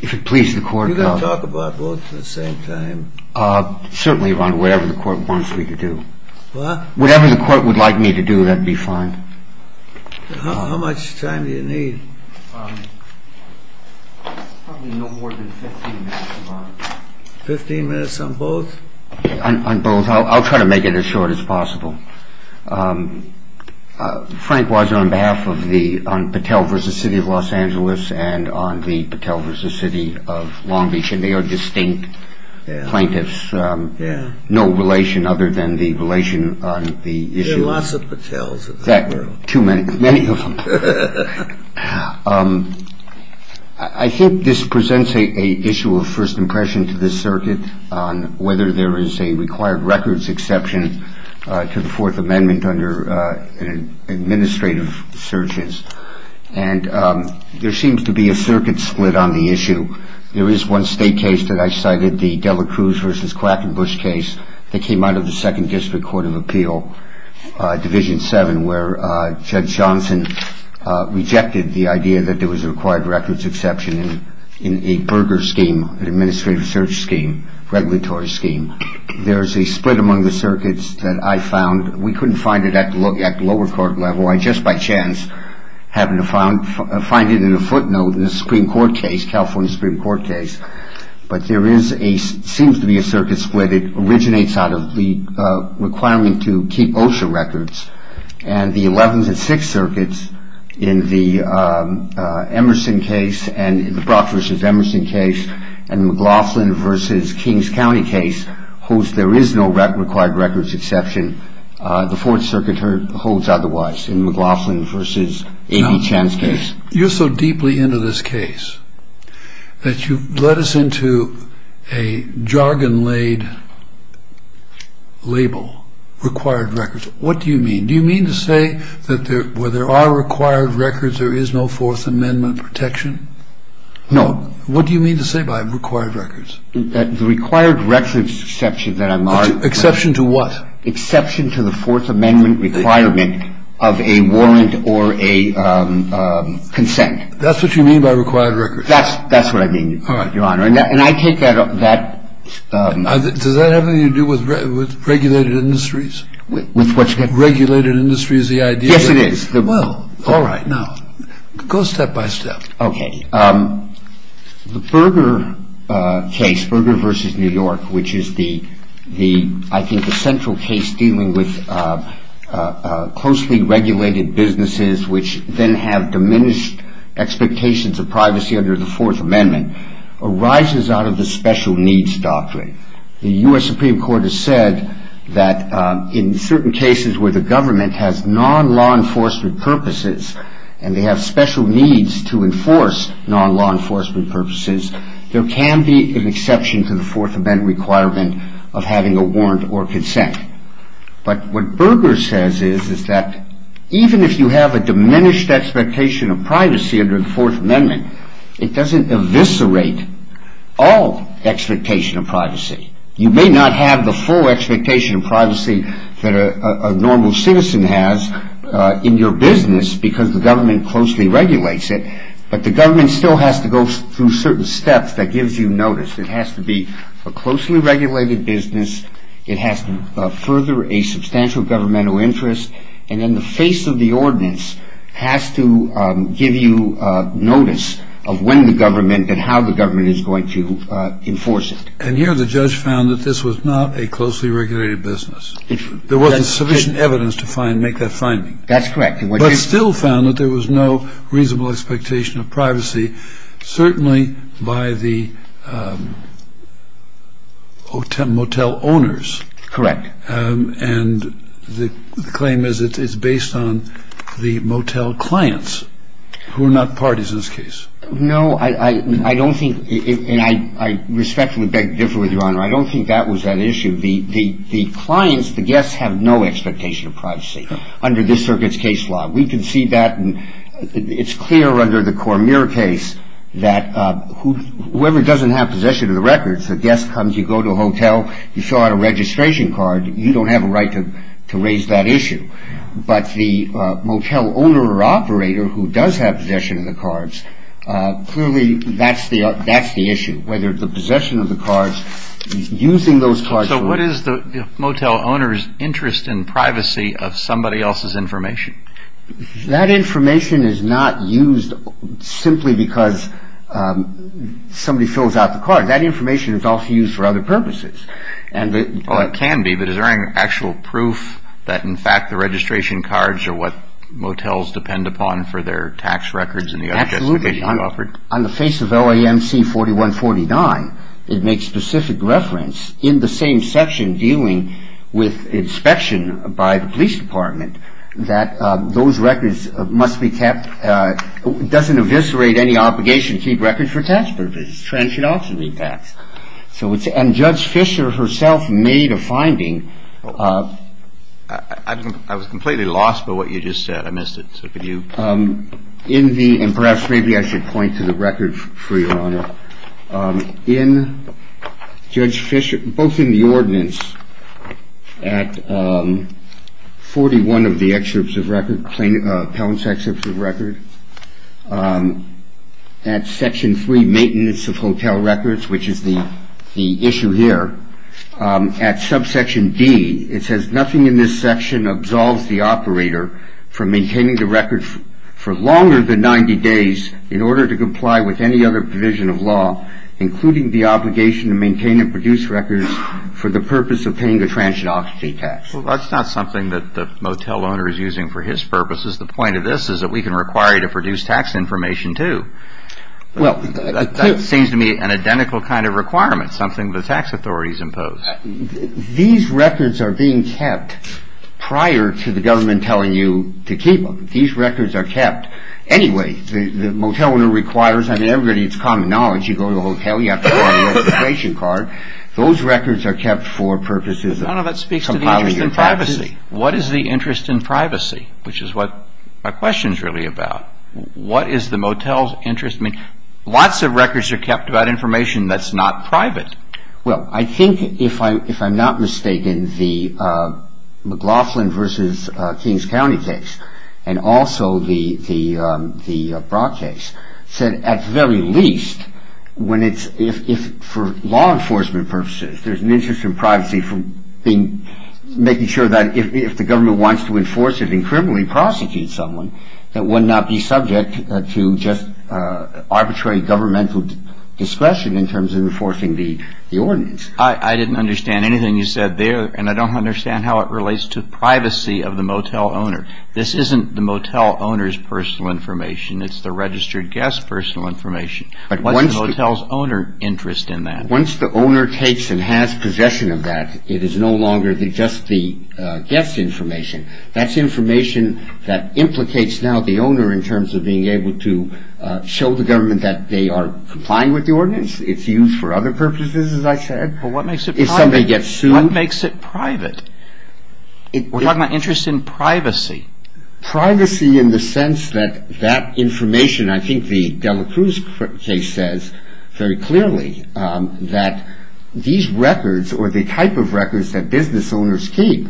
If it pleases the court, Your Honor. You're going to talk about both at the same time? Certainly, Your Honor. Whatever the court wants me to do. What? Whatever the court would like me to do, that would be fine. How much time do you need? Probably no more than 15 minutes, Your Honor. 15 minutes on both? On both. I'll try to make it as short as possible. Frank, on behalf of Patel v. City of Los Angeles and on the Patel v. City of Long Beach, and they are distinct plaintiffs, no relation other than the relation on the issue. There are lots of Patels in the world. Too many. Many of them. I think this presents an issue of first impression to the circuit on whether there is a required records exception to the Fourth Amendment under administrative searches. And there seems to be a circuit split on the issue. There is one state case that I cited, the Dela Cruz v. Quackenbush case that came out of the Second District Court of Appeal, Division 7, where Judge Johnson rejected the idea that there was a required records exception in a burger scheme, an administrative search scheme, regulatory scheme. There is a split among the circuits that I found. We couldn't find it at the lower court level. I just by chance happened to find it in a footnote in a Supreme Court case, a California Supreme Court case. But there seems to be a circuit split. It originates out of the requirement to keep OSHA records. And the Eleventh and Sixth Circuits in the Brock v. Emerson case and McLaughlin v. Kings County case holds there is no required records exception. The Fourth Circuit holds otherwise in McLaughlin v. A.B. Chan's case. You're so deeply into this case that you've led us into a jargon-laid label, required records. What do you mean? Do you mean to say that where there are required records, there is no Fourth Amendment protection? No. What do you mean to say by required records? The required records exception that I'm arguing. Exception to what? Exception to the Fourth Amendment requirement of a warrant or a consent. That's what you mean by required records? That's what I mean, Your Honor. And I take that. Does that have anything to do with regulated industries? With what? Regulated industry is the idea. Yes, it is. Well, all right. Now, go step by step. Okay. The Berger case, Berger v. New York, which is the, I think, the central case dealing with closely regulated businesses which then have diminished expectations of privacy under the Fourth Amendment, arises out of the special needs doctrine. The U.S. Supreme Court has said that in certain cases where the government has non-law enforcement purposes and they have special needs to enforce non-law enforcement purposes, there can be an exception to the Fourth Amendment requirement of having a warrant or consent. But what Berger says is that even if you have a diminished expectation of privacy under the Fourth Amendment, it doesn't eviscerate all expectation of privacy. You may not have the full expectation of privacy that a normal citizen has in your business because the government closely regulates it, but the government still has to go through certain steps that gives you notice. It has to be a closely regulated business. It has to further a substantial governmental interest. And then the face of the ordinance has to give you notice of when the government and how the government is going to enforce it. And here the judge found that this was not a closely regulated business. There wasn't sufficient evidence to make that finding. That's correct. But still found that there was no reasonable expectation of privacy, certainly by the motel owners. Correct. And the claim is it's based on the motel clients who are not parties in this case. No, I don't think, and I respectfully beg to differ with Your Honor, I don't think that was an issue. The clients, the guests, have no expectation of privacy under this circuit's case law. We can see that. It's clear under the Cormier case that whoever doesn't have possession of the records, the guest comes, you go to a hotel, you fill out a registration card, you don't have a right to raise that issue. But the motel owner or operator who does have possession of the cards, clearly that's the issue, whether the possession of the cards, using those cards. So what is the motel owner's interest in privacy of somebody else's information? That information is not used simply because somebody fills out the card. That information is also used for other purposes. Well, it can be, but is there any actual proof that, in fact, the registration cards are what motels depend upon for their tax records and the other justifications you offered? Absolutely. On the face of LAMC 4149, it makes specific reference in the same section dealing with inspection by the police department that those records must be kept, doesn't eviscerate any obligation to keep records for tax purposes. It's transferred off to the tax. And Judge Fisher herself made a finding. I was completely lost by what you just said. I missed it. Perhaps maybe I should point to the record for your honor. In Judge Fisher, both in the ordinance at 41 of the excerpts of record, at section three, maintenance of hotel records, which is the issue here, at subsection D, it says nothing in this section absolves the operator from maintaining the record for longer than 90 days in order to comply with any other provision of law, including the obligation to maintain and produce records for the purpose of paying the transient occupancy tax. Well, that's not something that the motel owner is using for his purposes. The point of this is that we can require you to produce tax information, too. Well, that seems to me an identical kind of requirement, something the tax authorities impose. These records are being kept prior to the government telling you to keep them. These records are kept anyway. The motel owner requires, I mean, everybody needs common knowledge. You go to a hotel, you have to have a registration card. Those records are kept for purposes of compiling your taxes. No, no, that speaks to the interest in privacy. What is the interest in privacy, which is what my question is really about? What is the motel's interest? I mean, lots of records are kept about information that's not private. Well, I think if I'm not mistaken, the McLaughlin v. Kings County case, and also the Brock case, said at the very least, when it's for law enforcement purposes, there's an interest in privacy from making sure that if the government wants to enforce it and criminally prosecute someone, that it would not be subject to just arbitrary governmental discretion in terms of enforcing the ordinance. I didn't understand anything you said there, and I don't understand how it relates to privacy of the motel owner. This isn't the motel owner's personal information. It's the registered guest's personal information. What's the motel's owner interest in that? Once the owner takes and has possession of that, it is no longer just the guest's information. That's information that implicates now the owner in terms of being able to show the government that they are complying with the ordinance. It's used for other purposes, as I said. If somebody gets sued. What makes it private? We're talking about interest in privacy. Privacy in the sense that that information, I think the Dela Cruz case says very clearly, that these records, or the type of records that business owners keep,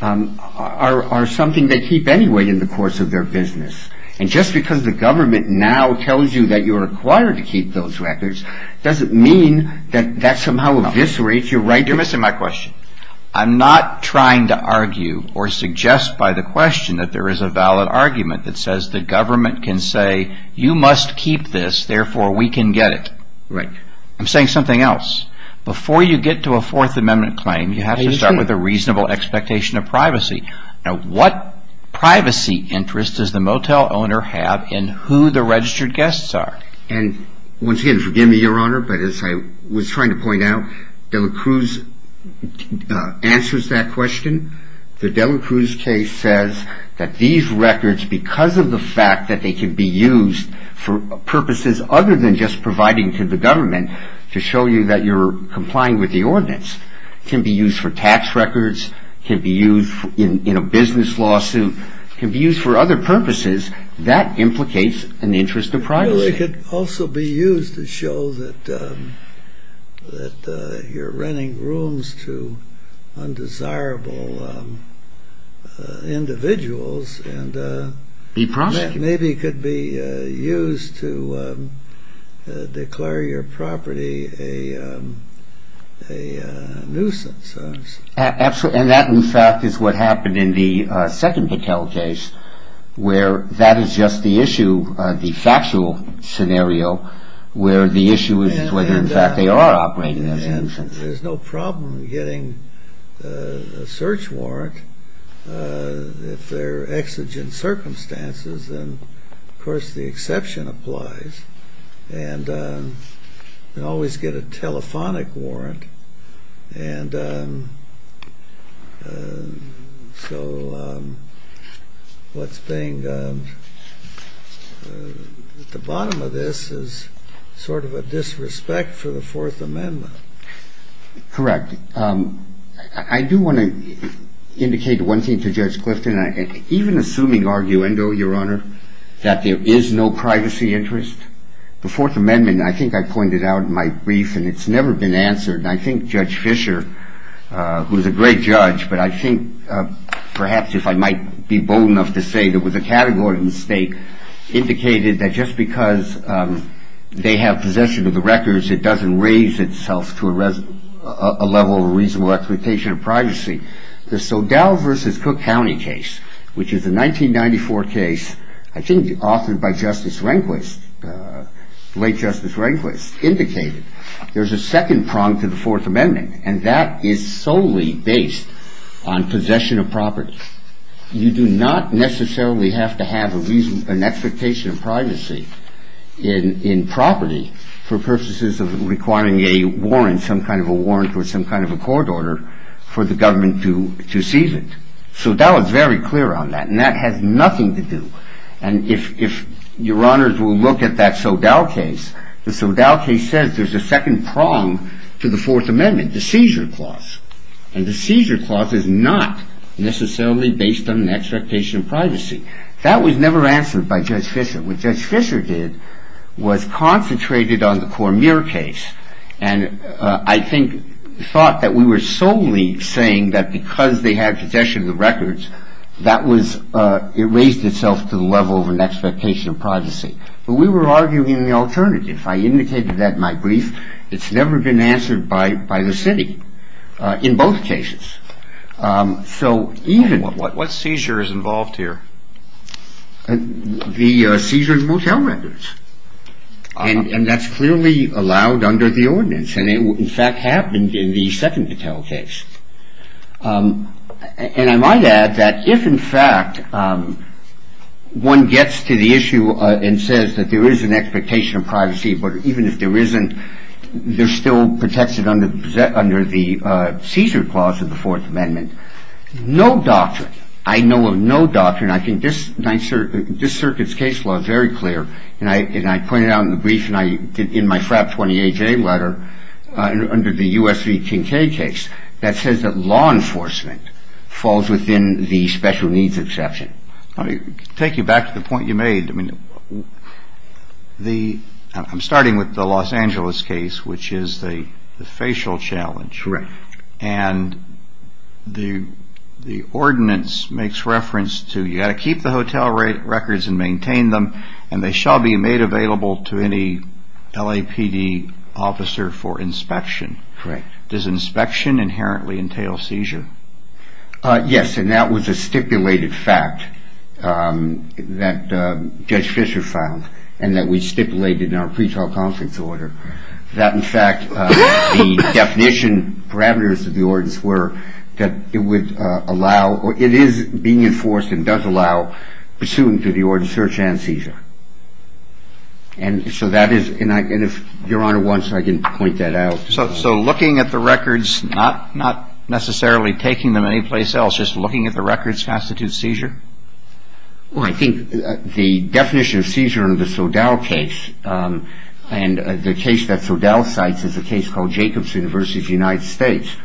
are something they keep anyway in the course of their business. And just because the government now tells you that you're required to keep those records, doesn't mean that that somehow eviscerates your right to... You're missing my question. I'm not trying to argue or suggest by the question that there is a valid argument that says the government can say you must keep this, therefore we can get it. Right. I'm saying something else. Before you get to a Fourth Amendment claim, you have to start with a reasonable expectation of privacy. Now what privacy interest does the motel owner have in who the registered guests are? And once again, forgive me, Your Honor, but as I was trying to point out, Dela Cruz answers that question. The Dela Cruz case says that these records, because of the fact that they can be used for purposes other than just providing to the government to show you that you're complying with the ordinance, can be used for tax records, can be used in a business lawsuit, can be used for other purposes, that implicates an interest of privacy. Well, it could also be used to show that you're renting rooms to undesirable individuals, and maybe it could be used to declare your property a nuisance. And that, in fact, is what happened in the second hotel case, where that is just the issue, the factual scenario, where the issue is whether, in fact, they are operating as a nuisance. And there's no problem getting a search warrant if they're exigent circumstances, and of course the exception applies. And you can always get a telephonic warrant. And so what's being at the bottom of this is sort of a disrespect for the Fourth Amendment. Correct. I do want to indicate one thing to Judge Clifton. Even assuming arguendo, Your Honor, that there is no privacy interest, the Fourth Amendment, I think I pointed out in my brief, and it's never been answered, and I think Judge Fischer, who's a great judge, but I think perhaps if I might be bold enough to say there was a category mistake, indicated that just because they have possession of the records, it doesn't raise itself to a level of reasonable expectation of privacy. The Sodal v. Cook County case, which is a 1994 case, I think authored by Justice Rehnquist, late Justice Rehnquist, indicated there's a second prong to the Fourth Amendment, and that is solely based on possession of property. You do not necessarily have to have an expectation of privacy in property for purposes of requiring a warrant, some kind of a warrant or some kind of a court order, for the government to seize it. Sodal is very clear on that, and that has nothing to do, and if Your Honors will look at that Sodal case, the Sodal case says there's a second prong to the Fourth Amendment, the seizure clause, and the seizure clause is not necessarily based on an expectation of privacy. That was never answered by Judge Fischer. What Judge Fischer did was concentrated on the Cormier case, and I think thought that we were solely saying that because they had possession of the records, that was, it raised itself to the level of an expectation of privacy. But we were arguing the alternative. I indicated that in my brief. It's never been answered by the city in both cases. So even... What seizure is involved here? The seizure of motel records, and that's clearly allowed under the ordinance, and it in fact happened in the second motel case. And I might add that if in fact one gets to the issue and says that there is an expectation of privacy, but even if there isn't, there's still protected under the seizure clause of the Fourth Amendment, no doctrine, I know of no doctrine, and I think this circuit's case law is very clear, and I pointed out in the brief and I did in my FRAP 28-J letter under the U.S. v. King K. case that says that law enforcement falls within the special needs exception. Let me take you back to the point you made. I mean, I'm starting with the Los Angeles case, which is the facial challenge. Correct. And the ordinance makes reference to you've got to keep the hotel records and maintain them, and they shall be made available to any LAPD officer for inspection. Correct. Does inspection inherently entail seizure? Yes, and that was a stipulated fact that Judge Fischer found, and that we stipulated in our pretrial conference order, that in fact the definition parameters of the ordinance were that it would allow or it is being enforced and does allow pursuant to the ordinance search and seizure. And so that is, and if Your Honor wants, I can point that out. So looking at the records, not necessarily taking them anyplace else, just looking at the records constitutes seizure? Well, I think the definition of seizure in the Soudal case, and the case that Soudal cites is a case called Jacobs University of the United States,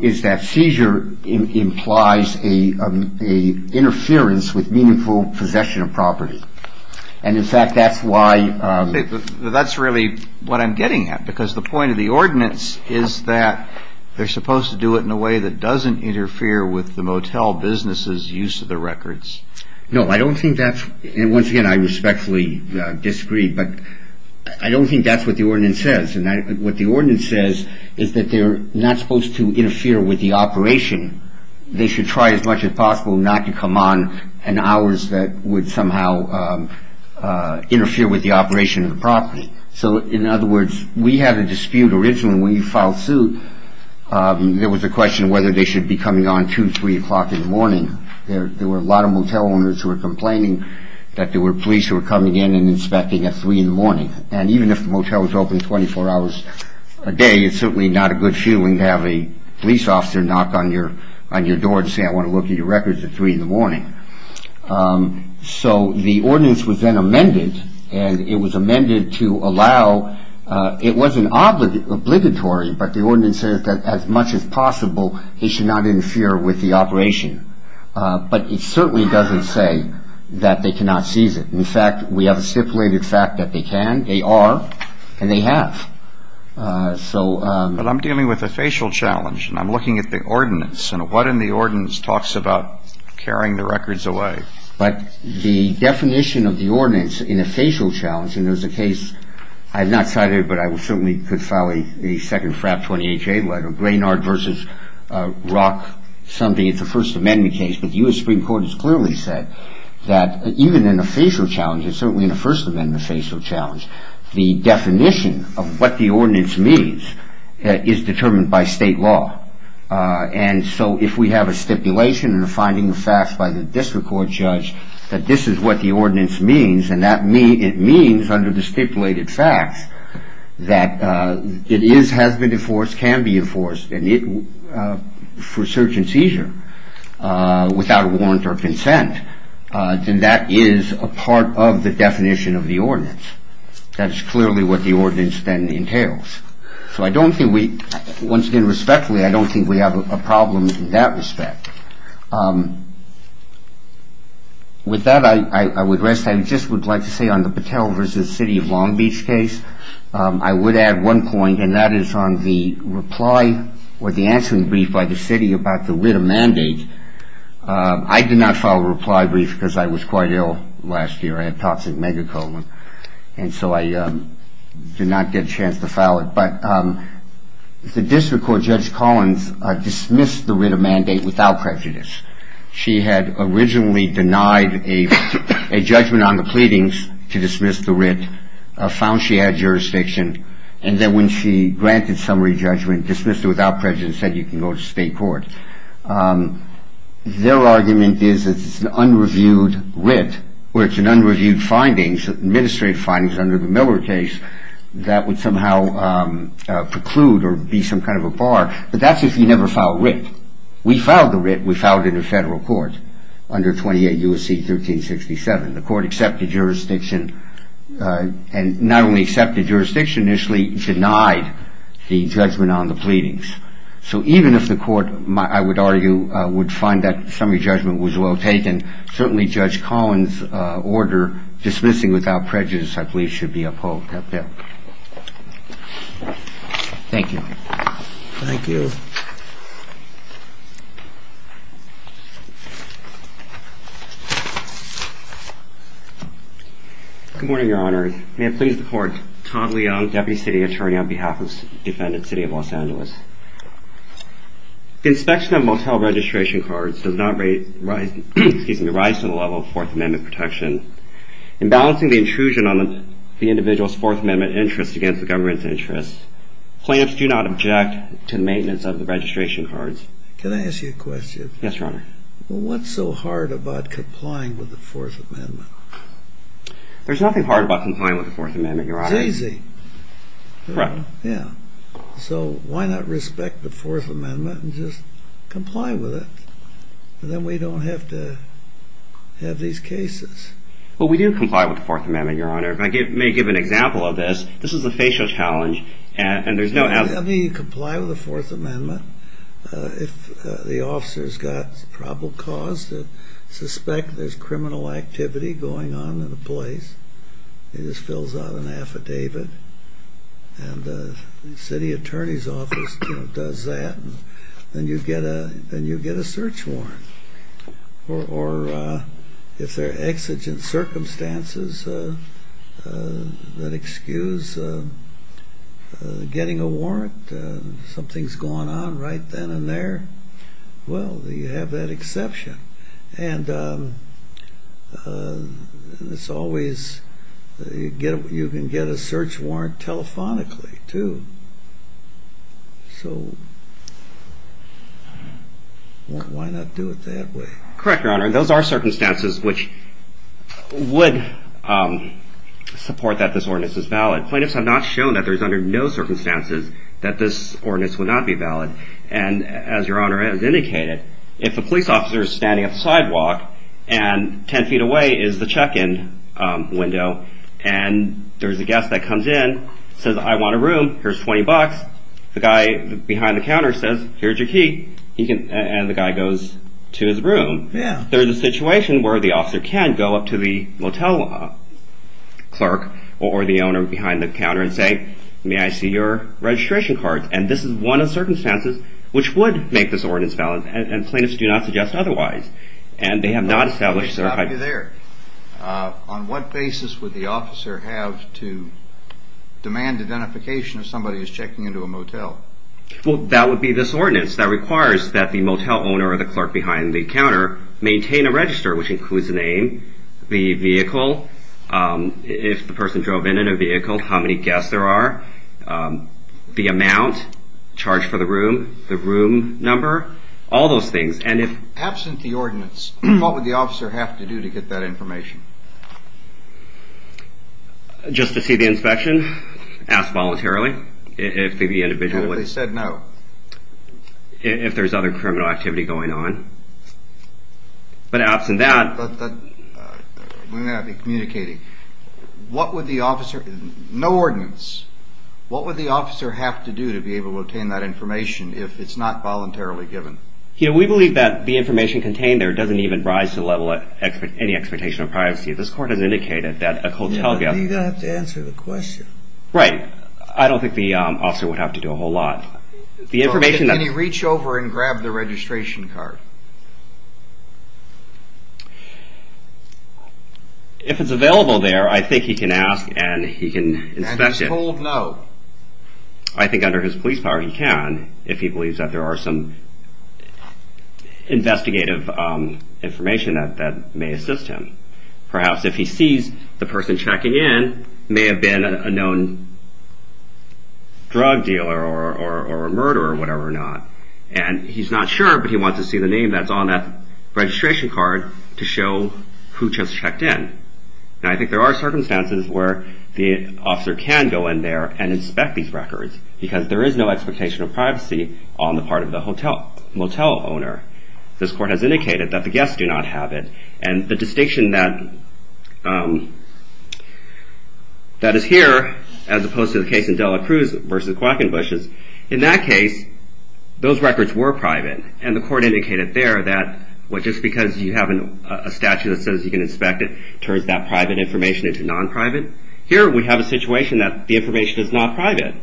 is that seizure implies an interference with meaningful possession of property. And in fact that's why. That's really what I'm getting at, because the point of the ordinance is that they're supposed to do it in a way that doesn't interfere with the motel business' use of the records. No, I don't think that's, and once again I respectfully disagree, but I don't think that's what the ordinance says. And what the ordinance says is that they're not supposed to interfere with the operation. They should try as much as possible not to come on in hours that would somehow interfere with the operation of the property. So in other words, we had a dispute originally when you filed suit. There was a question whether they should be coming on 2, 3 o'clock in the morning. There were a lot of motel owners who were complaining that there were police who were coming in and inspecting at 3 in the morning. And even if the motel is open 24 hours a day, it's certainly not a good feeling to have a police officer knock on your door and say I want to look at your records at 3 in the morning. So the ordinance was then amended, and it was amended to allow, it wasn't obligatory, but the ordinance says that as much as possible he should not interfere with the operation. But it certainly doesn't say that they cannot seize it. In fact, we have a stipulated fact that they can, they are, and they have. But I'm dealing with a facial challenge, and I'm looking at the ordinance, and what in the ordinance talks about carrying the records away? But the definition of the ordinance in a facial challenge, and there's a case, I have not cited it, but I certainly could file a second FRAP 28-J letter, Graynard versus Rock something, it's a First Amendment case, but the U.S. Supreme Court has clearly said that even in a facial challenge, and certainly in a First Amendment facial challenge, the definition of what the ordinance means is determined by state law. And so if we have a stipulation and a finding of facts by the district court judge, that this is what the ordinance means, and it means under the stipulated facts, that it is, has been enforced, can be enforced, and for search and seizure without warrant or consent, then that is a part of the definition of the ordinance. That is clearly what the ordinance then entails. So I don't think we, once again respectfully, I don't think we have a problem in that respect. With that I would rest, I just would like to say on the Patel versus City of Long Beach case, I would add one point, and that is on the reply, or the answering brief by the city about the writ of mandate, I did not file a reply brief because I was quite ill last year, I had toxic megacolon, and so I did not get a chance to file it. But the district court judge Collins dismissed the writ of mandate without prejudice. She had originally denied a judgment on the pleadings to dismiss the writ, found she had jurisdiction, and then when she granted summary judgment, dismissed it without prejudice and said you can go to state court. Their argument is that it's an unreviewed writ, or it's an unreviewed findings, administrative findings under the Miller case, that would somehow preclude or be some kind of a bar, but that's if you never filed writ. We filed the writ, we filed it in federal court under 28 U.S.C. 1367. The court accepted jurisdiction, and not only accepted jurisdiction, initially denied the judgment on the pleadings. So even if the court, I would argue, would find that summary judgment was well taken, certainly Judge Collins' order dismissing without prejudice, I believe, should be upheld. Thank you. Thank you. Good morning, Your Honor. May it please the court, Tom Leong, Deputy City Attorney on behalf of the defendant, City of Los Angeles. The inspection of motel registration cards does not rise to the level of Fourth Amendment protection. In balancing the intrusion on the individual's Fourth Amendment interest against the government's interest, plaintiffs do not object to the maintenance of the registration cards. Can I ask you a question? Yes, Your Honor. What's so hard about complying with the Fourth Amendment? There's nothing hard about complying with the Fourth Amendment, Your Honor. It's easy. Correct. Yeah. So why not respect the Fourth Amendment and just comply with it? And then we don't have to have these cases. Well, we do comply with the Fourth Amendment, Your Honor. If I may give an example of this, this is a facial challenge, and there's no... I mean, you comply with the Fourth Amendment. If the officer's got probable cause to suspect there's criminal activity going on in a place, he just fills out an affidavit, and the city attorney's office does that, then you get a search warrant. Or if there are exigent circumstances that excuse getting a warrant, something's going on right then and there, well, you have that exception. And it's always you can get a search warrant telephonically, too. So why not do it that way? Correct, Your Honor. Those are circumstances which would support that this ordinance is valid. Plaintiffs have not shown that there's under no circumstances that this ordinance would not be valid. And as Your Honor has indicated, if a police officer is standing at the sidewalk, and 10 feet away is the check-in window, and there's a guest that comes in, says, I want a room, here's $20. The guy behind the counter says, here's your key, and the guy goes to his room. There's a situation where the officer can go up to the motel clerk or the owner behind the counter and say, may I see your registration cards? And this is one of the circumstances which would make this ordinance valid, and plaintiffs do not suggest otherwise. And they have not established their hypothesis. On what basis would the officer have to demand identification if somebody is checking into a motel? Well, that would be this ordinance. That requires that the motel owner or the clerk behind the counter maintain a register, which includes the name, the vehicle, if the person drove in in a vehicle, how many guests there are, the amount charged for the room, the room number, all those things. Absent the ordinance, what would the officer have to do to get that information? Just to see the inspection, ask voluntarily if the individual would. If they said no. If there's other criminal activity going on. But absent that. We're going to have to be communicating. What would the officer, no ordinance, what would the officer have to do to be able to obtain that information if it's not voluntarily given? We believe that the information contained there doesn't even rise to the level of any expectation of privacy. This court has indicated that a motel... You're going to have to answer the question. Right. I don't think the officer would have to do a whole lot. Can he reach over and grab the registration card? If it's available there, I think he can ask and he can inspect it. And he's told no. I think under his police power he can if he believes that there are some investigative information that may assist him. Perhaps if he sees the person checking in may have been a known drug dealer or a murderer or whatever or not. And he's not sure but he wants to see the name that's on that registration card to show who just checked in. And I think there are circumstances where the officer can go in there and inspect these records. Because there is no expectation of privacy on the part of the motel owner. This court has indicated that the guests do not have it. And the distinction that is here as opposed to the case in Dela Cruz versus Quackenbush is in that case those records were private. And the court indicated there that just because you have a statute that says you can inspect it turns that private information into non-private. Here we have a situation that the information is not private.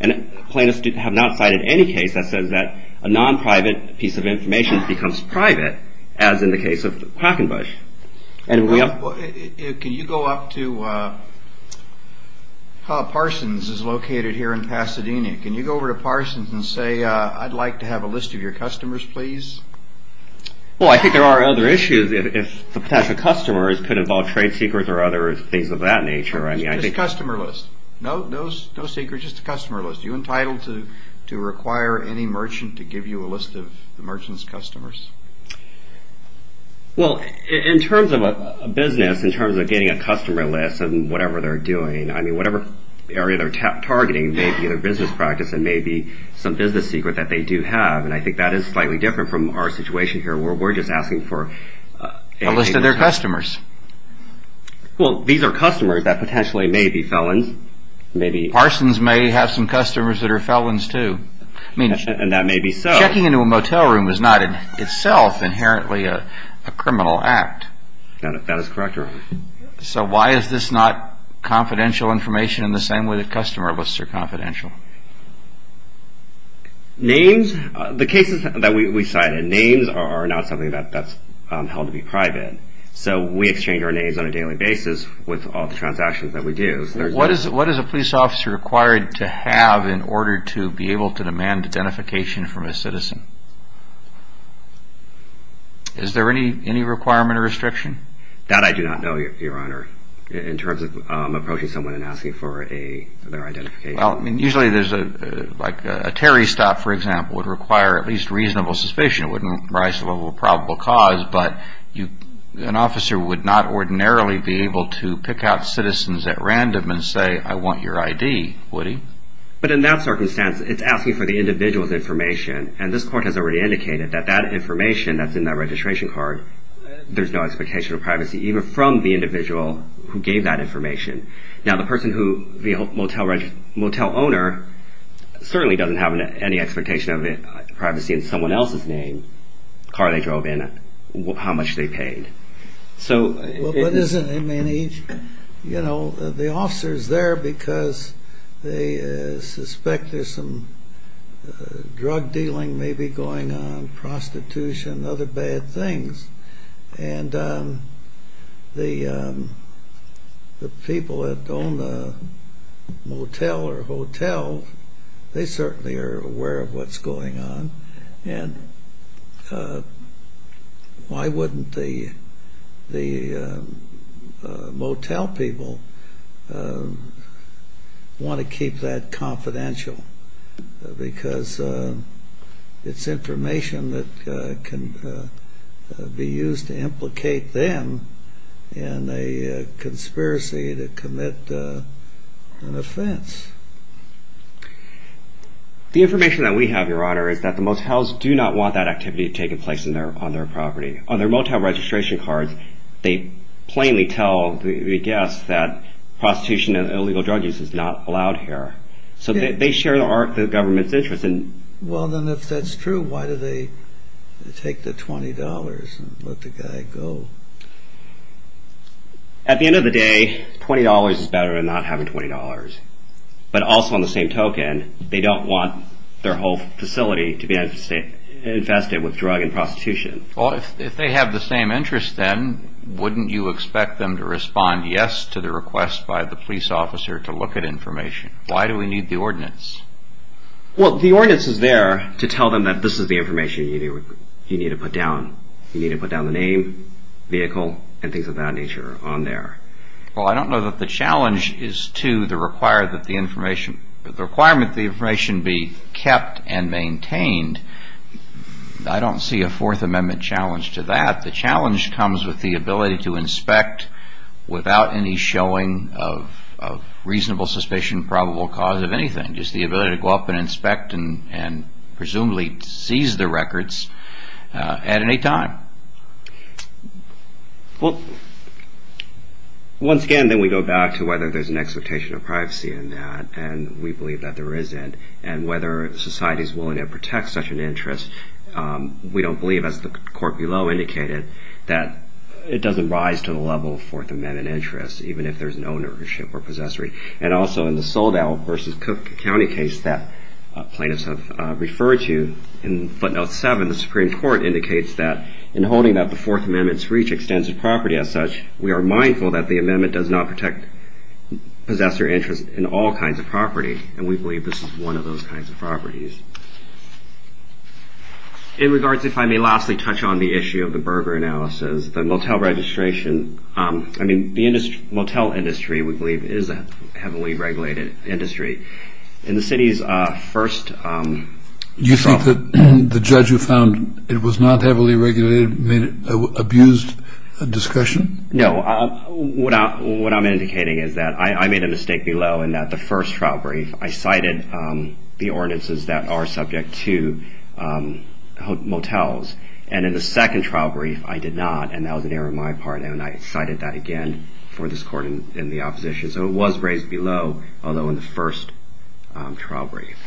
And plaintiffs have not cited any case that says that a non-private piece of information becomes private as in the case of Quackenbush. Can you go up to Parsons is located here in Pasadena. Can you go over to Parsons and say I'd like to have a list of your customers please. Well I think there are other issues if the customers could involve trade secrets or other things of that nature. Just a customer list. No secrets, just a customer list. Are you entitled to require any merchant to give you a list of the merchant's customers? Well in terms of a business, in terms of getting a customer list and whatever they're doing, I mean whatever area they're targeting may be their business practice and may be some business secret that they do have. And I think that is slightly different from our situation here where we're just asking for a list of their customers. Well these are customers that potentially may be felons. Parsons may have some customers that are felons too. And that may be so. Checking into a motel room is not in itself inherently a criminal act. That is correct. So why is this not confidential information in the same way that customer lists are confidential? Names, the cases that we cited, names are not something that's held to be private. So we exchange our names on a daily basis with all the transactions that we do. What is a police officer required to have in order to be able to demand identification from a citizen? Is there any requirement or restriction? That I do not know, Your Honor, in terms of approaching someone and asking for their identification. Usually there's like a Terry stop, for example, would require at least reasonable suspicion. It wouldn't rise to the level of probable cause. But an officer would not ordinarily be able to pick out citizens at random and say, I want your ID, would he? But in that circumstance, it's asking for the individual's information. And this court has already indicated that that information that's in that registration card, there's no expectation of privacy, even from the individual who gave that information. Now, the person who, the motel owner, certainly doesn't have any expectation of privacy in someone else's name, the car they drove in, how much they paid. But isn't, I mean, each, you know, the officer's there because they suspect there's some drug dealing maybe going on, prostitution, other bad things. And the people that own the motel or hotel, they certainly are aware of what's going on. And why wouldn't the motel people want to keep that confidential? Because it's information that can be used to implicate them in a conspiracy to commit an offense. The information that we have, Your Honor, is that the motels do not want that activity to take place on their property. On their motel registration cards, they plainly tell the guests that prostitution and illegal drug use is not allowed here. So they share the government's interest. Well, then if that's true, why do they take the $20 and let the guy go? At the end of the day, $20 is better than not having $20. But also on the same token, they don't want their whole facility to be infested with drug and prostitution. Well, if they have the same interest then, wouldn't you expect them to respond yes to the request by the police officer to look at information? Why do we need the ordinance? Well, the ordinance is there to tell them that this is the information you need to put down. You need to put down the name, vehicle, and things of that nature on there. Well, I don't know that the challenge is to the requirement that the information be kept and maintained. I don't see a Fourth Amendment challenge to that. The challenge comes with the ability to inspect without any showing of reasonable suspicion, probable cause of anything. Just the ability to go up and inspect and presumably seize the records at any time. Well, once again, then we go back to whether there's an expectation of privacy in that. And we believe that there isn't. And whether society is willing to protect such an interest, we don't believe, as the court below indicated, that it doesn't rise to the level of Fourth Amendment interest, even if there's an ownership or possessory. And also in the Soldow versus Cook County case that plaintiffs have referred to in footnote 7, the Supreme Court indicates that in holding that the Fourth Amendment's reach extensive property as such, we are mindful that the amendment does not protect possessor interest in all kinds of property. And we believe this is one of those kinds of properties. In regards, if I may lastly touch on the issue of the Berger analysis, the motel registration. I mean, the motel industry, we believe, is a heavily regulated industry. In the city's first trial. You think that the judge who found it was not heavily regulated made it an abused discussion? No, what I'm indicating is that I made a mistake below in that the first trial brief, I cited the ordinances that are subject to motels. And in the second trial brief, I did not. And that was an error on my part. And I cited that again for this court in the opposition. So it was raised below, although in the first trial brief.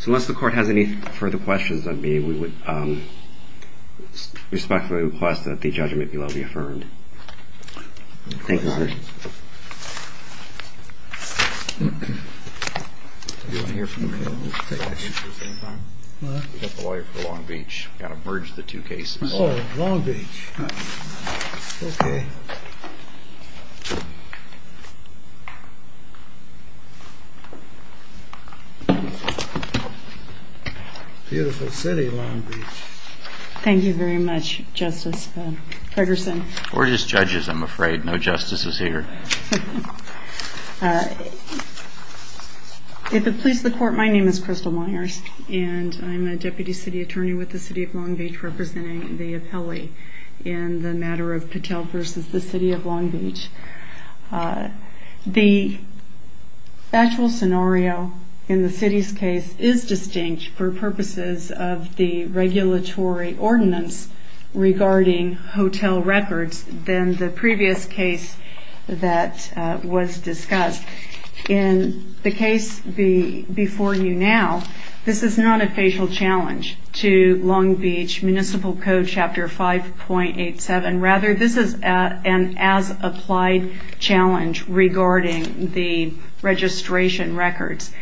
So unless the court has any further questions on me, we would respectfully request that the judgment below be affirmed. Thank you, sir. You want to hear from him? He's a lawyer for Long Beach. Got to merge the two cases. Oh, Long Beach. Okay. Beautiful city, Long Beach. Thank you very much, Justice Ferguson. We're just judges, I'm afraid. No justices here. If it pleases the court, my name is Crystal Myers, and I'm a deputy city attorney with the city of Long Beach representing the appellee in the matter of Patel versus the city of Long Beach. The actual scenario in the city's case is distinct for purposes of the regulatory ordinance regarding hotel records than the previous case that was discussed. In the case before you now, this is not a facial challenge to Long Beach Municipal Code Chapter 5.87. Rather, this is an as-applied challenge regarding the registration records.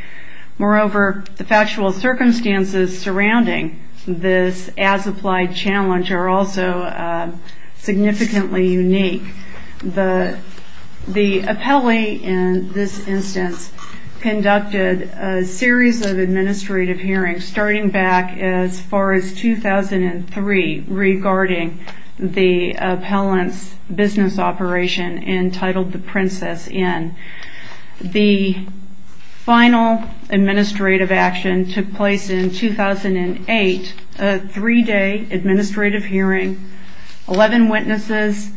Moreover, the factual circumstances surrounding this as-applied challenge are also significantly unique. The appellee in this instance conducted a series of administrative hearings starting back as far as 2003 regarding the appellant's business operation entitled The Princess Inn. The final administrative action took place in 2008, a three-day administrative hearing, 11 witnesses,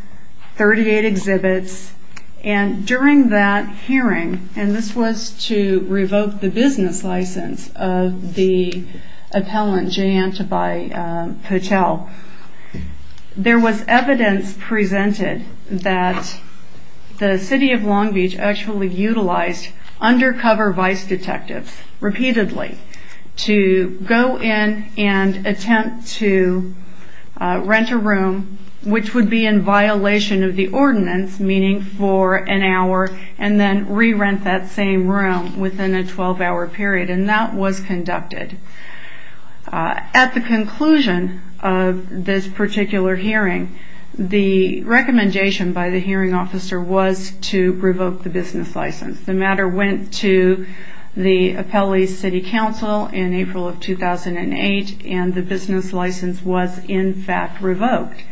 38 exhibits. During that hearing, and this was to revoke the business license of the appellant, Jayanta by Patel, there was evidence presented that the city of Long Beach actually utilized undercover vice detectives repeatedly to go in and attempt to rent a room, which would be in violation of the ordinance, meaning for an hour, and then re-rent that same room within a 12-hour period. And that was conducted. At the conclusion of this particular hearing, the recommendation by the hearing officer was to revoke the business license. The matter went to the appellee's city council in April of 2008, and the business license was in fact revoked.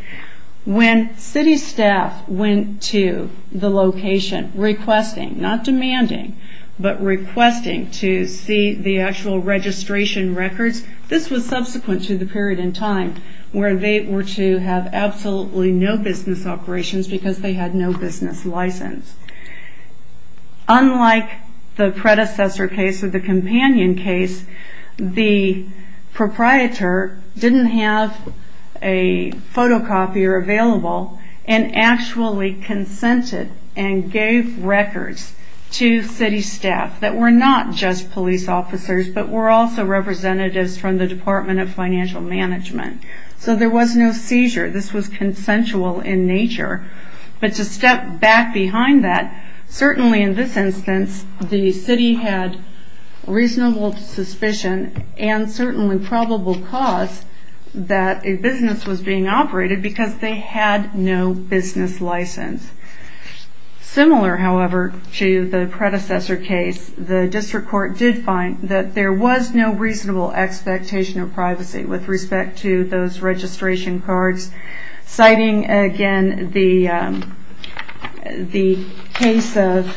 When city staff went to the location requesting, not demanding, but requesting to see the actual registration records, this was subsequent to the period in time where they were to have absolutely no business operations because they had no business license. Unlike the predecessor case or the companion case, the proprietor didn't have a photocopier available and actually consented and gave records to city staff that were not just police officers, but were also representatives from the Department of Financial Management. So there was no seizure. This was consensual in nature. But to step back behind that, certainly in this instance the city had reasonable suspicion and certainly probable cause that a business was being operated because they had no business license. Similar, however, to the predecessor case, the district court did find that there was no reasonable expectation of privacy with respect to those registration cards, citing, again, the case of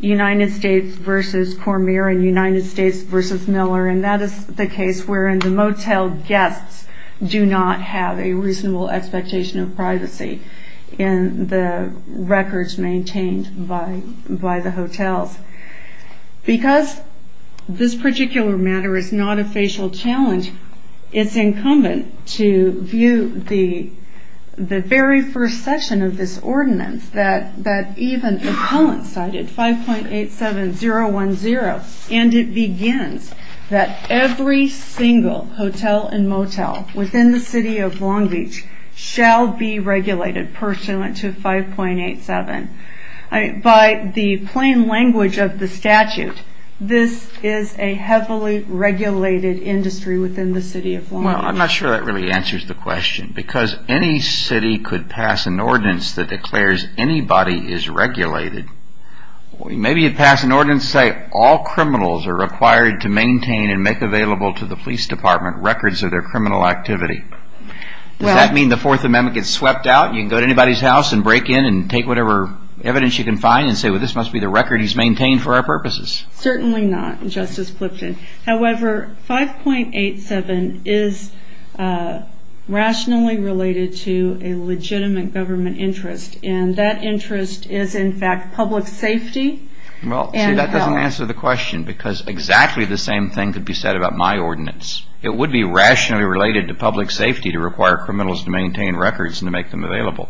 United States v. Cormier and United States v. Miller, and that is the case wherein the motel guests do not have a reasonable expectation of privacy in the records maintained by the hotels. Because this particular matter is not a facial challenge, it's incumbent to view the very first section of this ordinance that even coincided, 5.87010, and it begins that every single hotel and motel within the city of Long Beach shall be regulated pursuant to 5.87. By the plain language of the statute, this is a heavily regulated industry within the city of Long Beach. Well, I'm not sure that really answers the question because any city could pass an ordinance that declares anybody is regulated. Maybe you pass an ordinance saying all criminals are required to maintain and make available to the police department records of their criminal activity. Does that mean the Fourth Amendment gets swept out and you can go to anybody's house and break in and take whatever evidence you can find and say, well, this must be the record he's maintained for our purposes? Certainly not, Justice Clifton. However, 5.87 is rationally related to a legitimate government interest, and that interest is in fact public safety. Well, see, that doesn't answer the question because exactly the same thing could be said about my ordinance. It would be rationally related to public safety to require criminals to maintain records and to make them available.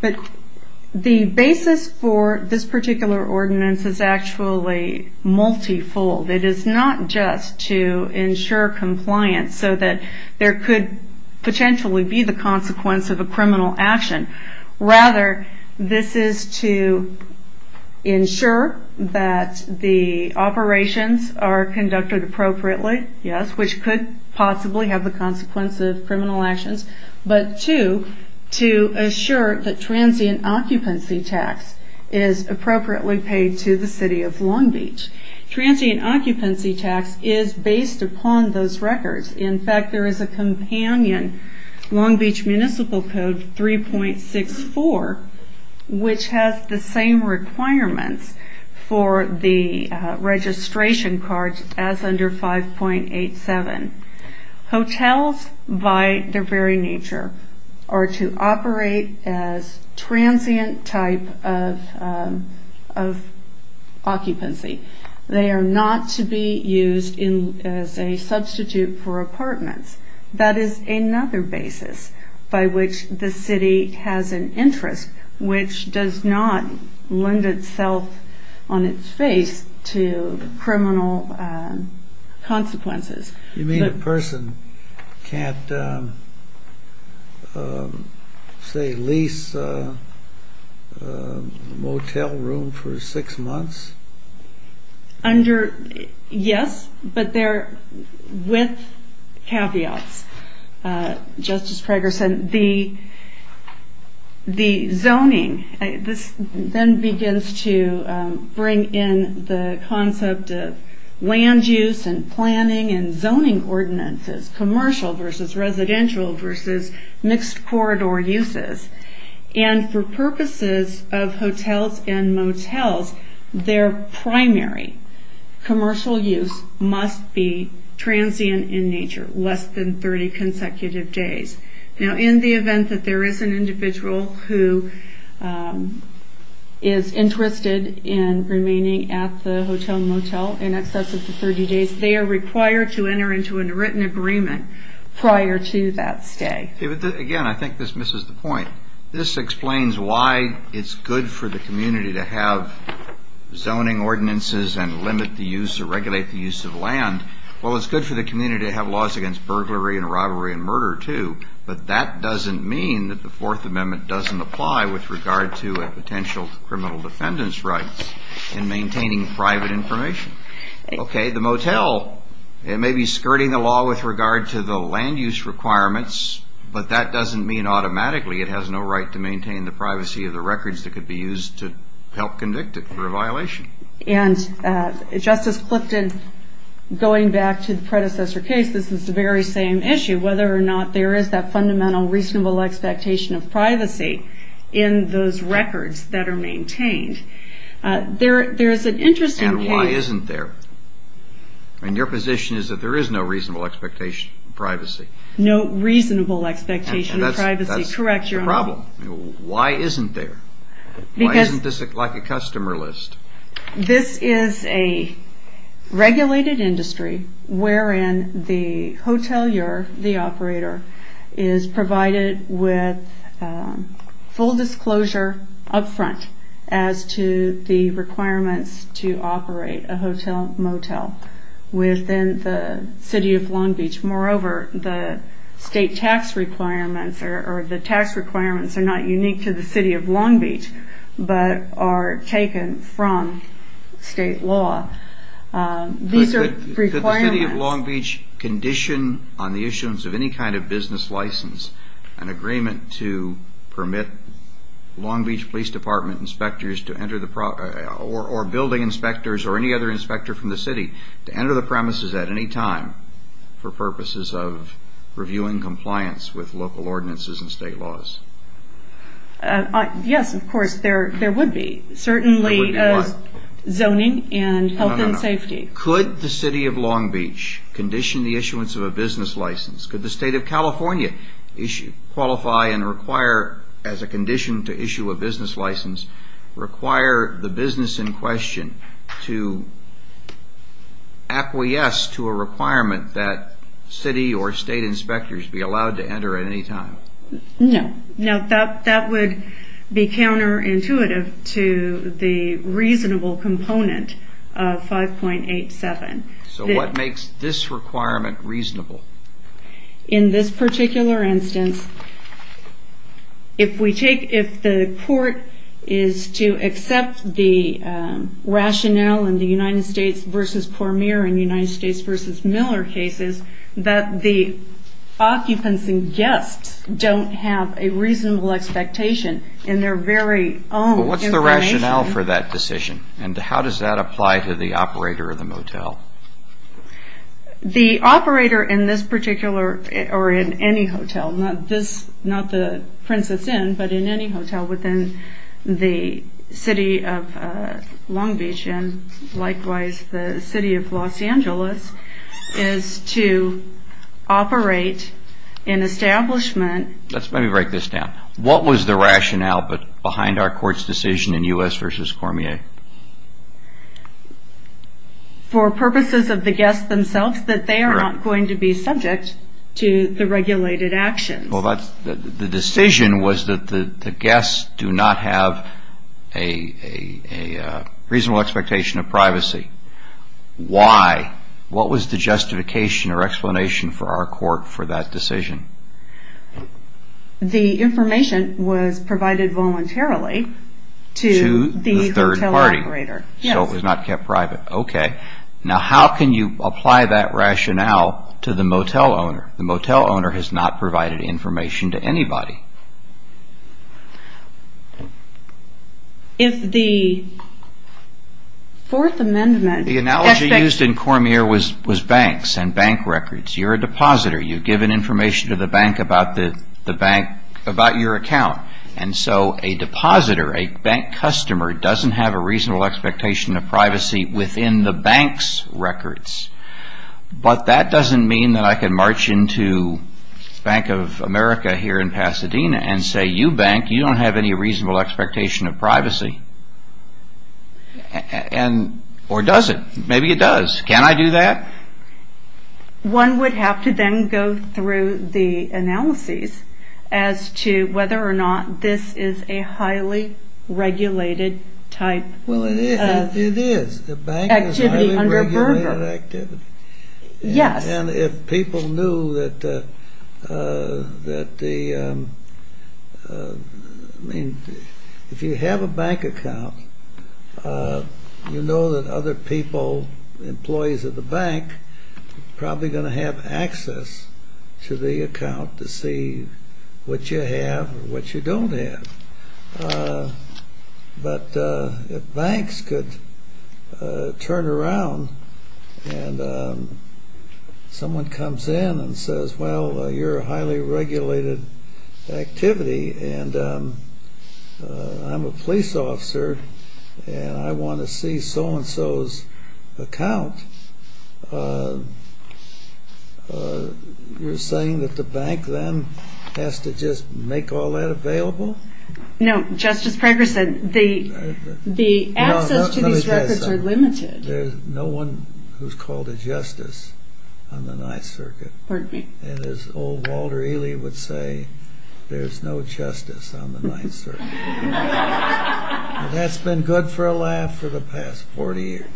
But the basis for this particular ordinance is actually multifold. It is not just to ensure compliance so that there could potentially be the consequence of a criminal action. Rather, this is to ensure that the operations are conducted appropriately, yes, which could possibly have the consequence of criminal actions, but two, to assure that transient occupancy tax is appropriately paid to the City of Long Beach. Transient occupancy tax is based upon those records. In fact, there is a companion Long Beach Municipal Code 3.64 which has the same requirements for the registration cards as under 5.87. Hotels by their very nature are to operate as transient type of occupancy. They are not to be used as a substitute for apartments. That is another basis by which the city has an interest which does not lend itself on its face to criminal consequences. You mean a person can't, say, lease a motel room for six months? Yes, but with caveats. Justice Prager said the zoning, this then begins to bring in the concept of land use and planning and zoning ordinances, commercial versus residential versus mixed corridor uses. For purposes of hotels and motels, their primary commercial use must be transient in nature, less than 30 consecutive days. In the event that there is an individual who is interested in remaining at the hotel and motel in excess of the 30 days, they are required to enter into a written agreement prior to that stay. Again, I think this misses the point. This explains why it's good for the community to have zoning ordinances and limit the use or regulate the use of land. Well, it's good for the community to have laws against burglary and robbery and murder too, but that doesn't mean that the Fourth Amendment doesn't apply with regard to a potential in maintaining private information. Okay, the motel may be skirting the law with regard to the land use requirements, but that doesn't mean automatically it has no right to maintain the privacy of the records that could be used to help convict it for a violation. And Justice Clifton, going back to the predecessor case, this is the very same issue, whether or not there is that fundamental, reasonable expectation of privacy in those records that are maintained. There is an interesting case... And why isn't there? Your position is that there is no reasonable expectation of privacy. No reasonable expectation of privacy. That's the problem. Why isn't there? Why isn't this like a customer list? This is a regulated industry wherein the hotelier, the operator, is provided with full disclosure up front as to the requirements to operate a motel within the city of Long Beach. Moreover, the state tax requirements are not unique to the city of Long Beach, but are taken from state law. Could the city of Long Beach condition on the issuance of any kind of business license an agreement to permit Long Beach Police Department inspectors or building inspectors or any other inspector from the city to enter the premises at any time for purposes of reviewing compliance with local ordinances and state laws? Yes, of course, there would be. Certainly zoning and health and safety. Could the city of Long Beach condition the issuance of a business license? Could the state of California qualify and as a condition to issue a business license require the business in question to acquiesce to a requirement that city or state inspectors be allowed to enter at any time? No, that would be counterintuitive to the reasonable component of 5.87. So what makes this requirement reasonable? In this particular instance, if the court is to accept the rationale in the United States v. Cormier and United States v. Miller cases that the occupants and guests don't have a reasonable expectation in their very own information. What's the rationale for that decision and how does that apply to the operator of the motel? The operator in this particular or in any hotel, not the Princess Inn, but in any hotel within the city of Long Beach and likewise the city of Los Angeles is to operate an establishment. Let me break this down. What was the rationale behind our court's decision in U.S. v. Cormier? For purposes of the guests themselves that they are not going to be subject to the regulated actions. The decision was that the guests do not have a reasonable expectation of privacy. Why? What was the justification or explanation for our court for that decision? The information was provided voluntarily to the hotel operator. So it was not kept private. Now how can you apply that rationale to the motel owner? The motel owner has not provided information to anybody. The analogy used in Cormier was banks and bank records. You're a depositor. You've given information to the bank about your account. So a depositor, a bank customer doesn't have a reasonable expectation of privacy within the bank's records. But that doesn't mean that I can march into Bank of America here in Pasadena and say you bank, you don't have any reasonable expectation of privacy. Or does it? Maybe it does. Can I do that? One would have to then go through the analyses as to whether or not this is a highly regulated type activity under Berger. Well, it is. The bank is a highly regulated activity. Yes. And if people knew that the... I mean, if you have a bank account, you know that other people, employees of the bank, are probably going to have access to the account to see what you have and what you don't have. But if banks could turn around and someone comes in and says, well, you're a highly regulated activity and I'm a police officer and I want to see so-and-so's account, you're saying that the bank then has to just make all that available? No. Just as Prager said, the access to these records are limited. There's no one who's called a justice on the Ninth Circuit. Pardon me? And as old Walter Ely would say, there's no justice on the Ninth Circuit. That's been good for a laugh for the past 40 years.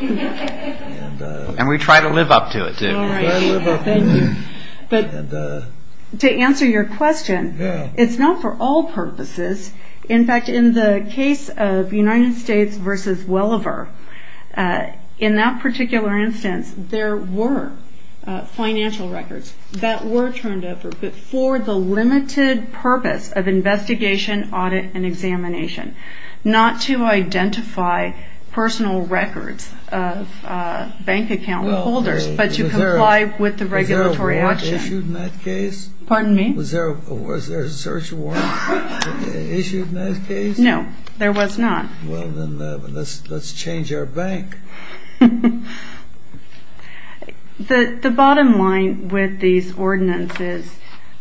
And we try to live up to it, too. We try to live up to it. But to answer your question, it's not for all purposes. In fact, in the case of United States v. Welliver, in that particular instance, there were financial records that were turned over but for the limited purpose of investigation, audit, and examination. Not to identify personal records of bank account holders but to comply with the regulatory action. Was there a warrant issued in that case? Pardon me? Was there a search warrant issued in that case? No, there was not. Well, then let's change our bank. The bottom line with these ordinances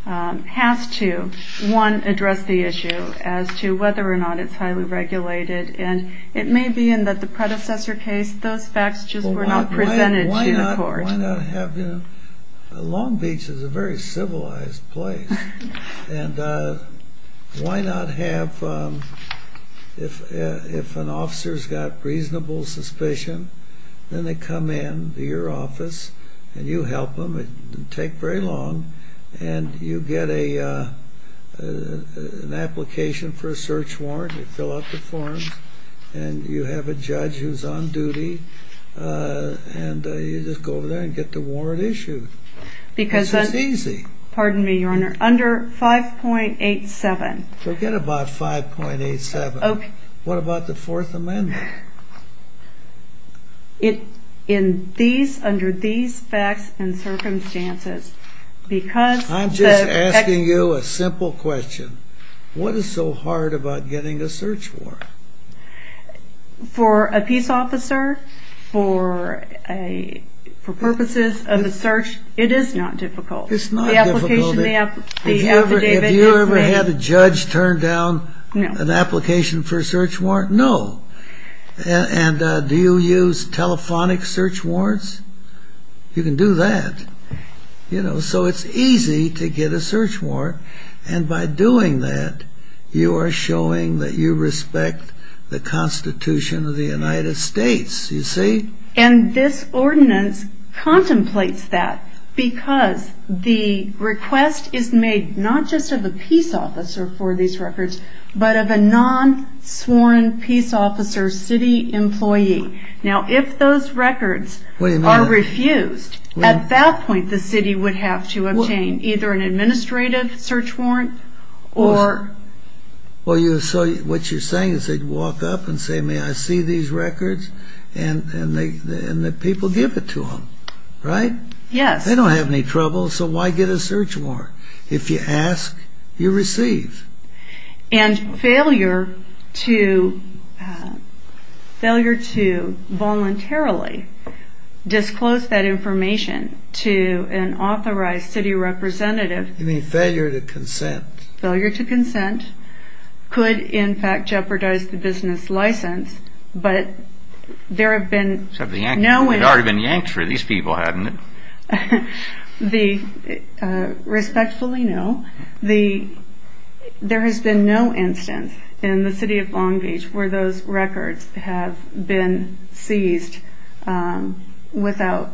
has to, one, address the issue as to whether or not it's highly regulated. And it may be in that the predecessor case, those facts just were not presented to the court. Why not have... Long Beach is a very civilized place. And why not have... If an officer's got reasonable suspicion, then they come in to your office and you help them. It didn't take very long. And you get an application for a search warrant. You fill out the forms. And you have a judge who's on duty. And you just go over there and get the warrant issued. This was easy. Pardon me, Your Honor. Under 5.87... Forget about 5.87. What about the Fourth Amendment? Under these facts and circumstances, because... I'm just asking you a simple question. What is so hard about getting a search warrant? For a peace officer, for purposes of a search, it is not difficult. It's not difficult. The application, the affidavit... Have you ever had a judge turn down an application for a search warrant? No. And do you use telephonic search warrants? You can do that. So it's easy to get a search warrant. And by doing that, you are showing that you respect the Constitution of the United States. You see? And this ordinance contemplates that because the request is made not just of a peace officer for these records, but of a non-sworn peace officer city employee. Now, if those records are refused, at that point, the city would have to obtain either an administrative search warrant, or... What you're saying is they'd walk up and say, may I see these records? And the people give it to them. Right? Yes. They don't have any trouble, so why get a search warrant? If you ask, you receive. And failure to... failure to voluntarily disclose that information to an authorized city representative... You mean failure to consent. Failure to consent could, in fact, jeopardize the business license, but there have been no... We'd already been yanked for these people, hadn't we? Respectfully, no. There has been no instance in the city of Long Beach where those records have been seized without...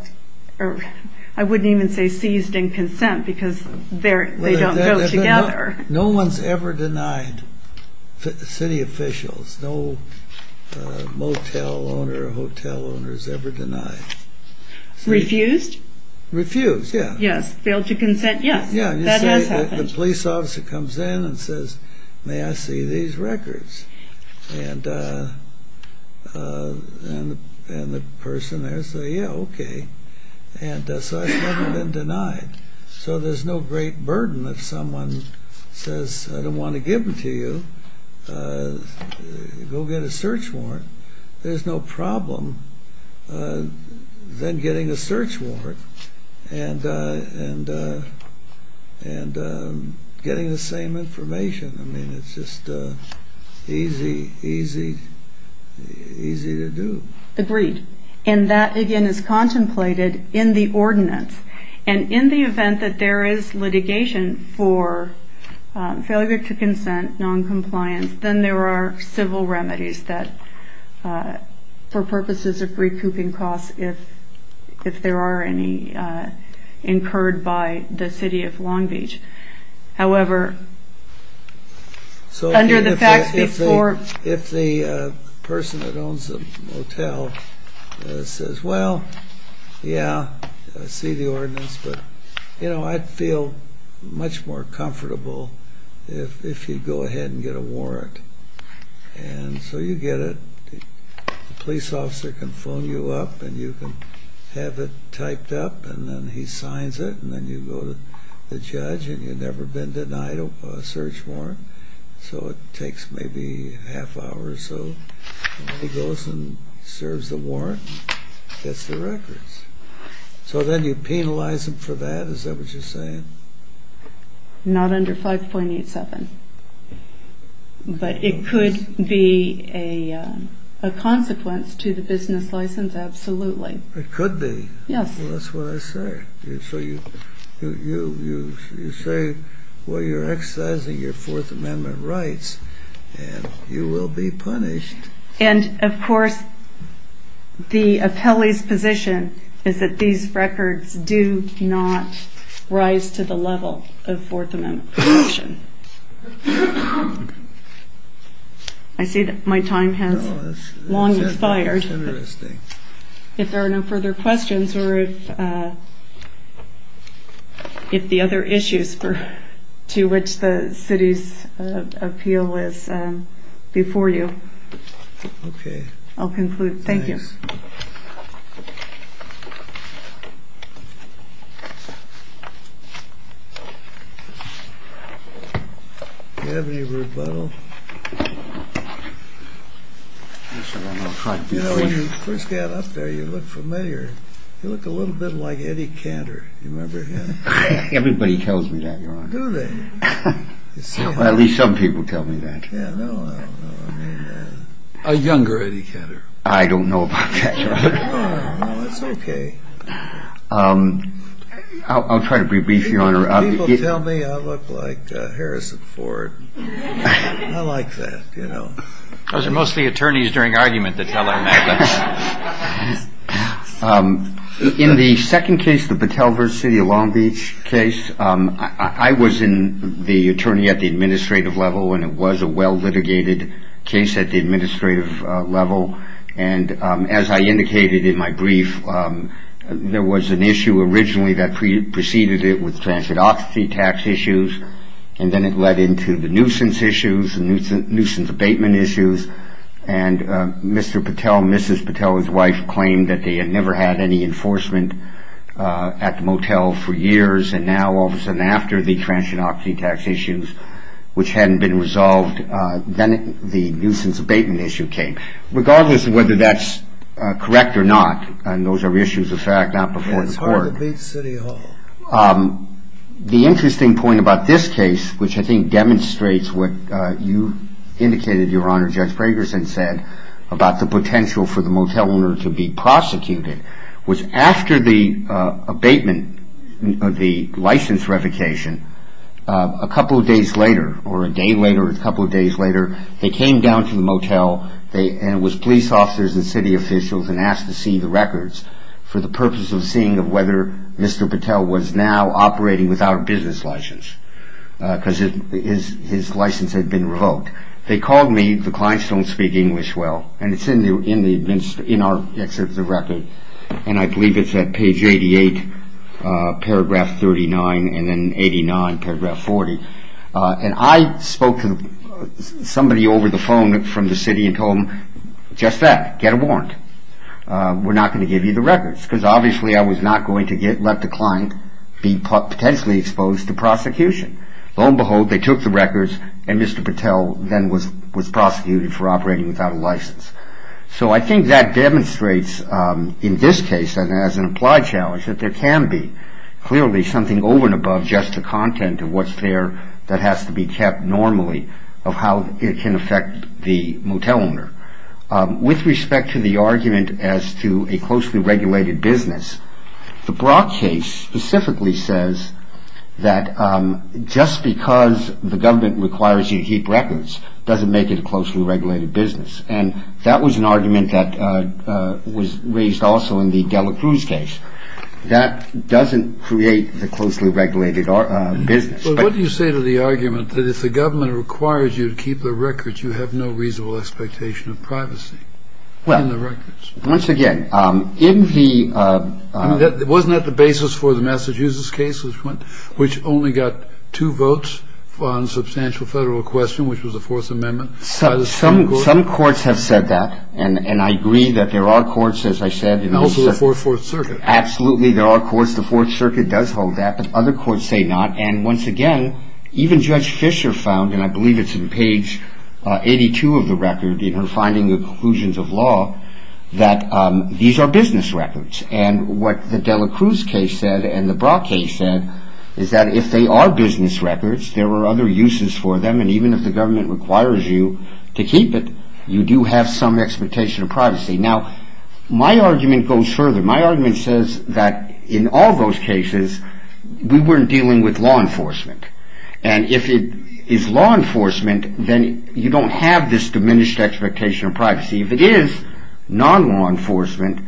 I wouldn't even say seized in consent, because they don't go together. No one's ever denied, city officials, no motel owner or hotel owner has ever denied. Refused? Refused, yeah. Yes. Failed to consent, yes. That has happened. The police officer comes in and says, may I see these records? And the person there says, yeah, okay. And so it's never been denied. So there's no great burden if someone says, I don't want to give them to you, go get a search warrant. There's no problem then getting a search warrant and getting the same information. I mean, it's just easy to do. Agreed. And that, again, is contemplated in the ordinance. And in the event that there is litigation for failure to consent, noncompliance, then there are civil remedies that for purposes of recouping costs if there are any incurred by the city of Long Beach. However, under the facts before... So if the person that owns the motel says, well, yeah, I see the ordinance, but I'd feel much more comfortable if you go ahead and get a warrant. And so you get it. The police officer can phone you up and you can have it typed up and then he signs it and then you go to the judge and you've never been denied a search warrant. So it takes maybe a half hour or so. And then he goes and serves the warrant and gets the records. So then you penalize him for that, is that what you're saying? Not under 5.87. But it could be a consequence to the business license, absolutely. It could be. Yes. Well, that's what I said. So you say, well, you're exercising your Fourth Amendment rights and you will be punished. And, of course, the appellee's position is that these records do not rise to the level of Fourth Amendment protection. I see that my time has long expired. That's interesting. If there are no further questions or if the other issues to which the city's appeal is before you, I'll conclude. Thank you. Do you have any rebuttal? You know, when you first got up there, you looked familiar. You looked a little bit like Eddie Cantor. You remember that? Everybody tells me that, Your Honor. Do they? At least some people tell me that. Yeah, no, I don't know. A younger Eddie Cantor. I don't know about that, Your Honor. No, no, no, it's okay. I'll try to be brief, Your Honor. People tell me I look like Harrison Ford. I like that, you know. Those are mostly attorneys during argument that tell on that. In the second case, the Batelverse City of Long Beach case, I was the attorney at the administrative level and it was a well-litigated case at the administrative level. And as I indicated in my brief, there was an issue originally that preceded it with transit oxy tax issues, and then it led into the nuisance issues, the nuisance abatement issues, and Mr. Patel, Mrs. Patel, his wife, claimed that they had never had any enforcement at the motel for years, and now all of a sudden, after the transit oxy tax issues, which hadn't been resolved, then the nuisance abatement issue came. Regardless of whether that's correct or not, and those are issues of fact, not before the court. It's hard to beat city hall. The interesting point about this case, which I think demonstrates what you indicated, Your Honor, Judge Fragerson said, about the potential for the motel owner to be prosecuted, was after the abatement, the license revocation, a couple of days later, or a day later, a couple of days later, they came down to the motel and it was police officers and city officials and asked to see the records for the purpose of seeing of whether Mr. Patel was now operating without a business license, because his license had been revoked. They called me, the clients don't speak English well, and it's in our excerpt of the record, and I believe it's at page 88, paragraph 39, and then 89, paragraph 40, and I spoke to somebody over the phone from the city and told them, just that, get a warrant. We're not going to give you the records, because obviously I was not going to let the client be potentially exposed to prosecution. Lo and behold, they took the records and Mr. Patel then was prosecuted for operating without a license. So I think that demonstrates, in this case, and as an applied challenge, that there can be, clearly, something over and above just the content of what's there that has to be kept normally of how it can affect the motel owner. With respect to the argument as to a closely regulated business, the Brock case specifically says that just because the government requires you to keep records doesn't make it a closely regulated business, and that was an argument that was raised also in the Dela Cruz case. That doesn't create the closely regulated business. But what do you say to the argument that if the government requires you to keep the records, you have no reasonable expectation of privacy in the records? Well, once again, in the... I mean, wasn't that the basis for the Massachusetts case, which only got two votes on substantial federal question, which was the Fourth Amendment? Some courts have said that, and I agree that there are courts, as I said... Also the Fourth Circuit. Absolutely, there are courts. The Fourth Circuit does hold that, but other courts say not. And once again, even Judge Fisher found, and I believe it's in page 82 of the record, in her finding the conclusions of law, that these are business records. And what the Dela Cruz case said and the Brock case said is that if they are business records, there are other uses for them, and even if the government requires you to keep it, you do have some expectation of privacy. Now, my argument goes further. My argument says that in all those cases, we weren't dealing with law enforcement. And if it is law enforcement, then you don't have this diminished expectation of privacy. If it is non-law enforcement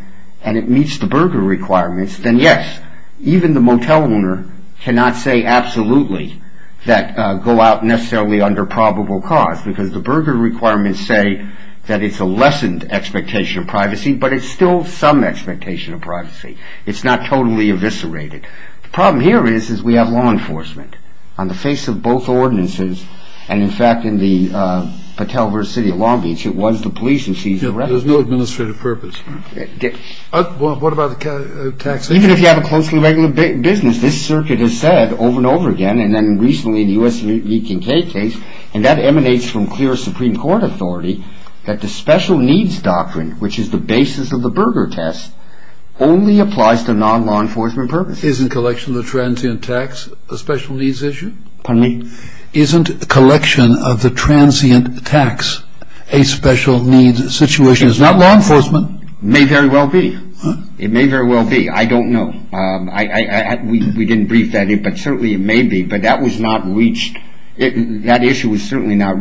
and it meets the Berger requirements, then yes, even the motel owner cannot say absolutely that go out necessarily under probable cause, because the Berger requirements say that it's a lessened expectation of privacy, but it's still some expectation of privacy. It's not totally eviscerated. The problem here is, is we have law enforcement on the face of both ordinances, and in fact, in the Patel versus City of Long Beach, it was the police who seized the residence. There's no administrative purpose. What about the tax? Even if you have a closely regulated business, this circuit has said over and over again, and then recently in the U.S. Lee Kincaid case, and that emanates from clear Supreme Court authority that the special needs doctrine, which is the basis of the Berger test, Isn't collection of the transient tax a special needs issue? Pardon me? Isn't collection of the transient tax a special needs situation? It's not law enforcement. It may very well be. It may very well be. I don't know. We didn't brief that, but certainly it may be, but that was not reached. That issue was certainly not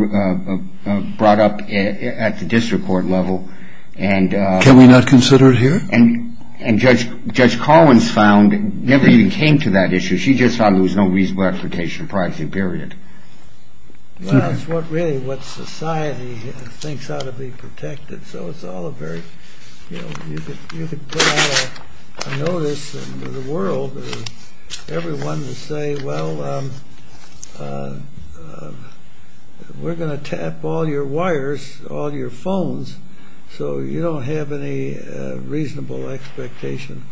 brought up at the district court level, and Can we not consider it here? And Judge Collins found, never even came to that issue. She just thought there was no reasonable expectation of privacy, period. Well, that's really what society thinks ought to be protected. So it's all a very, you know, you could put out a notice in the world to everyone to say, well, we're going to tap all your wires, all your phones, so you don't have any reasonable expectation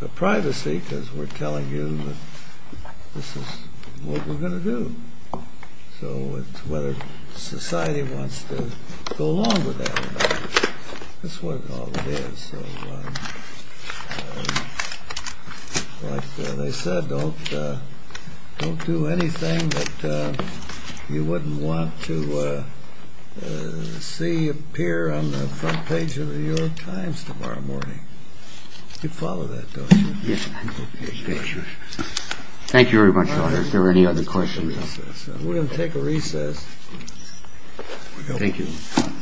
of privacy, because we're telling you that this is what we're going to do. So it's whether society wants to go along with that. That's what it all is. Like they said, don't do anything that you wouldn't want to see appear on the front page of the New York Times tomorrow morning. You follow that, don't you? Thank you very much, Your Honor. If there are any other questions. We're going to take a recess. Thank you.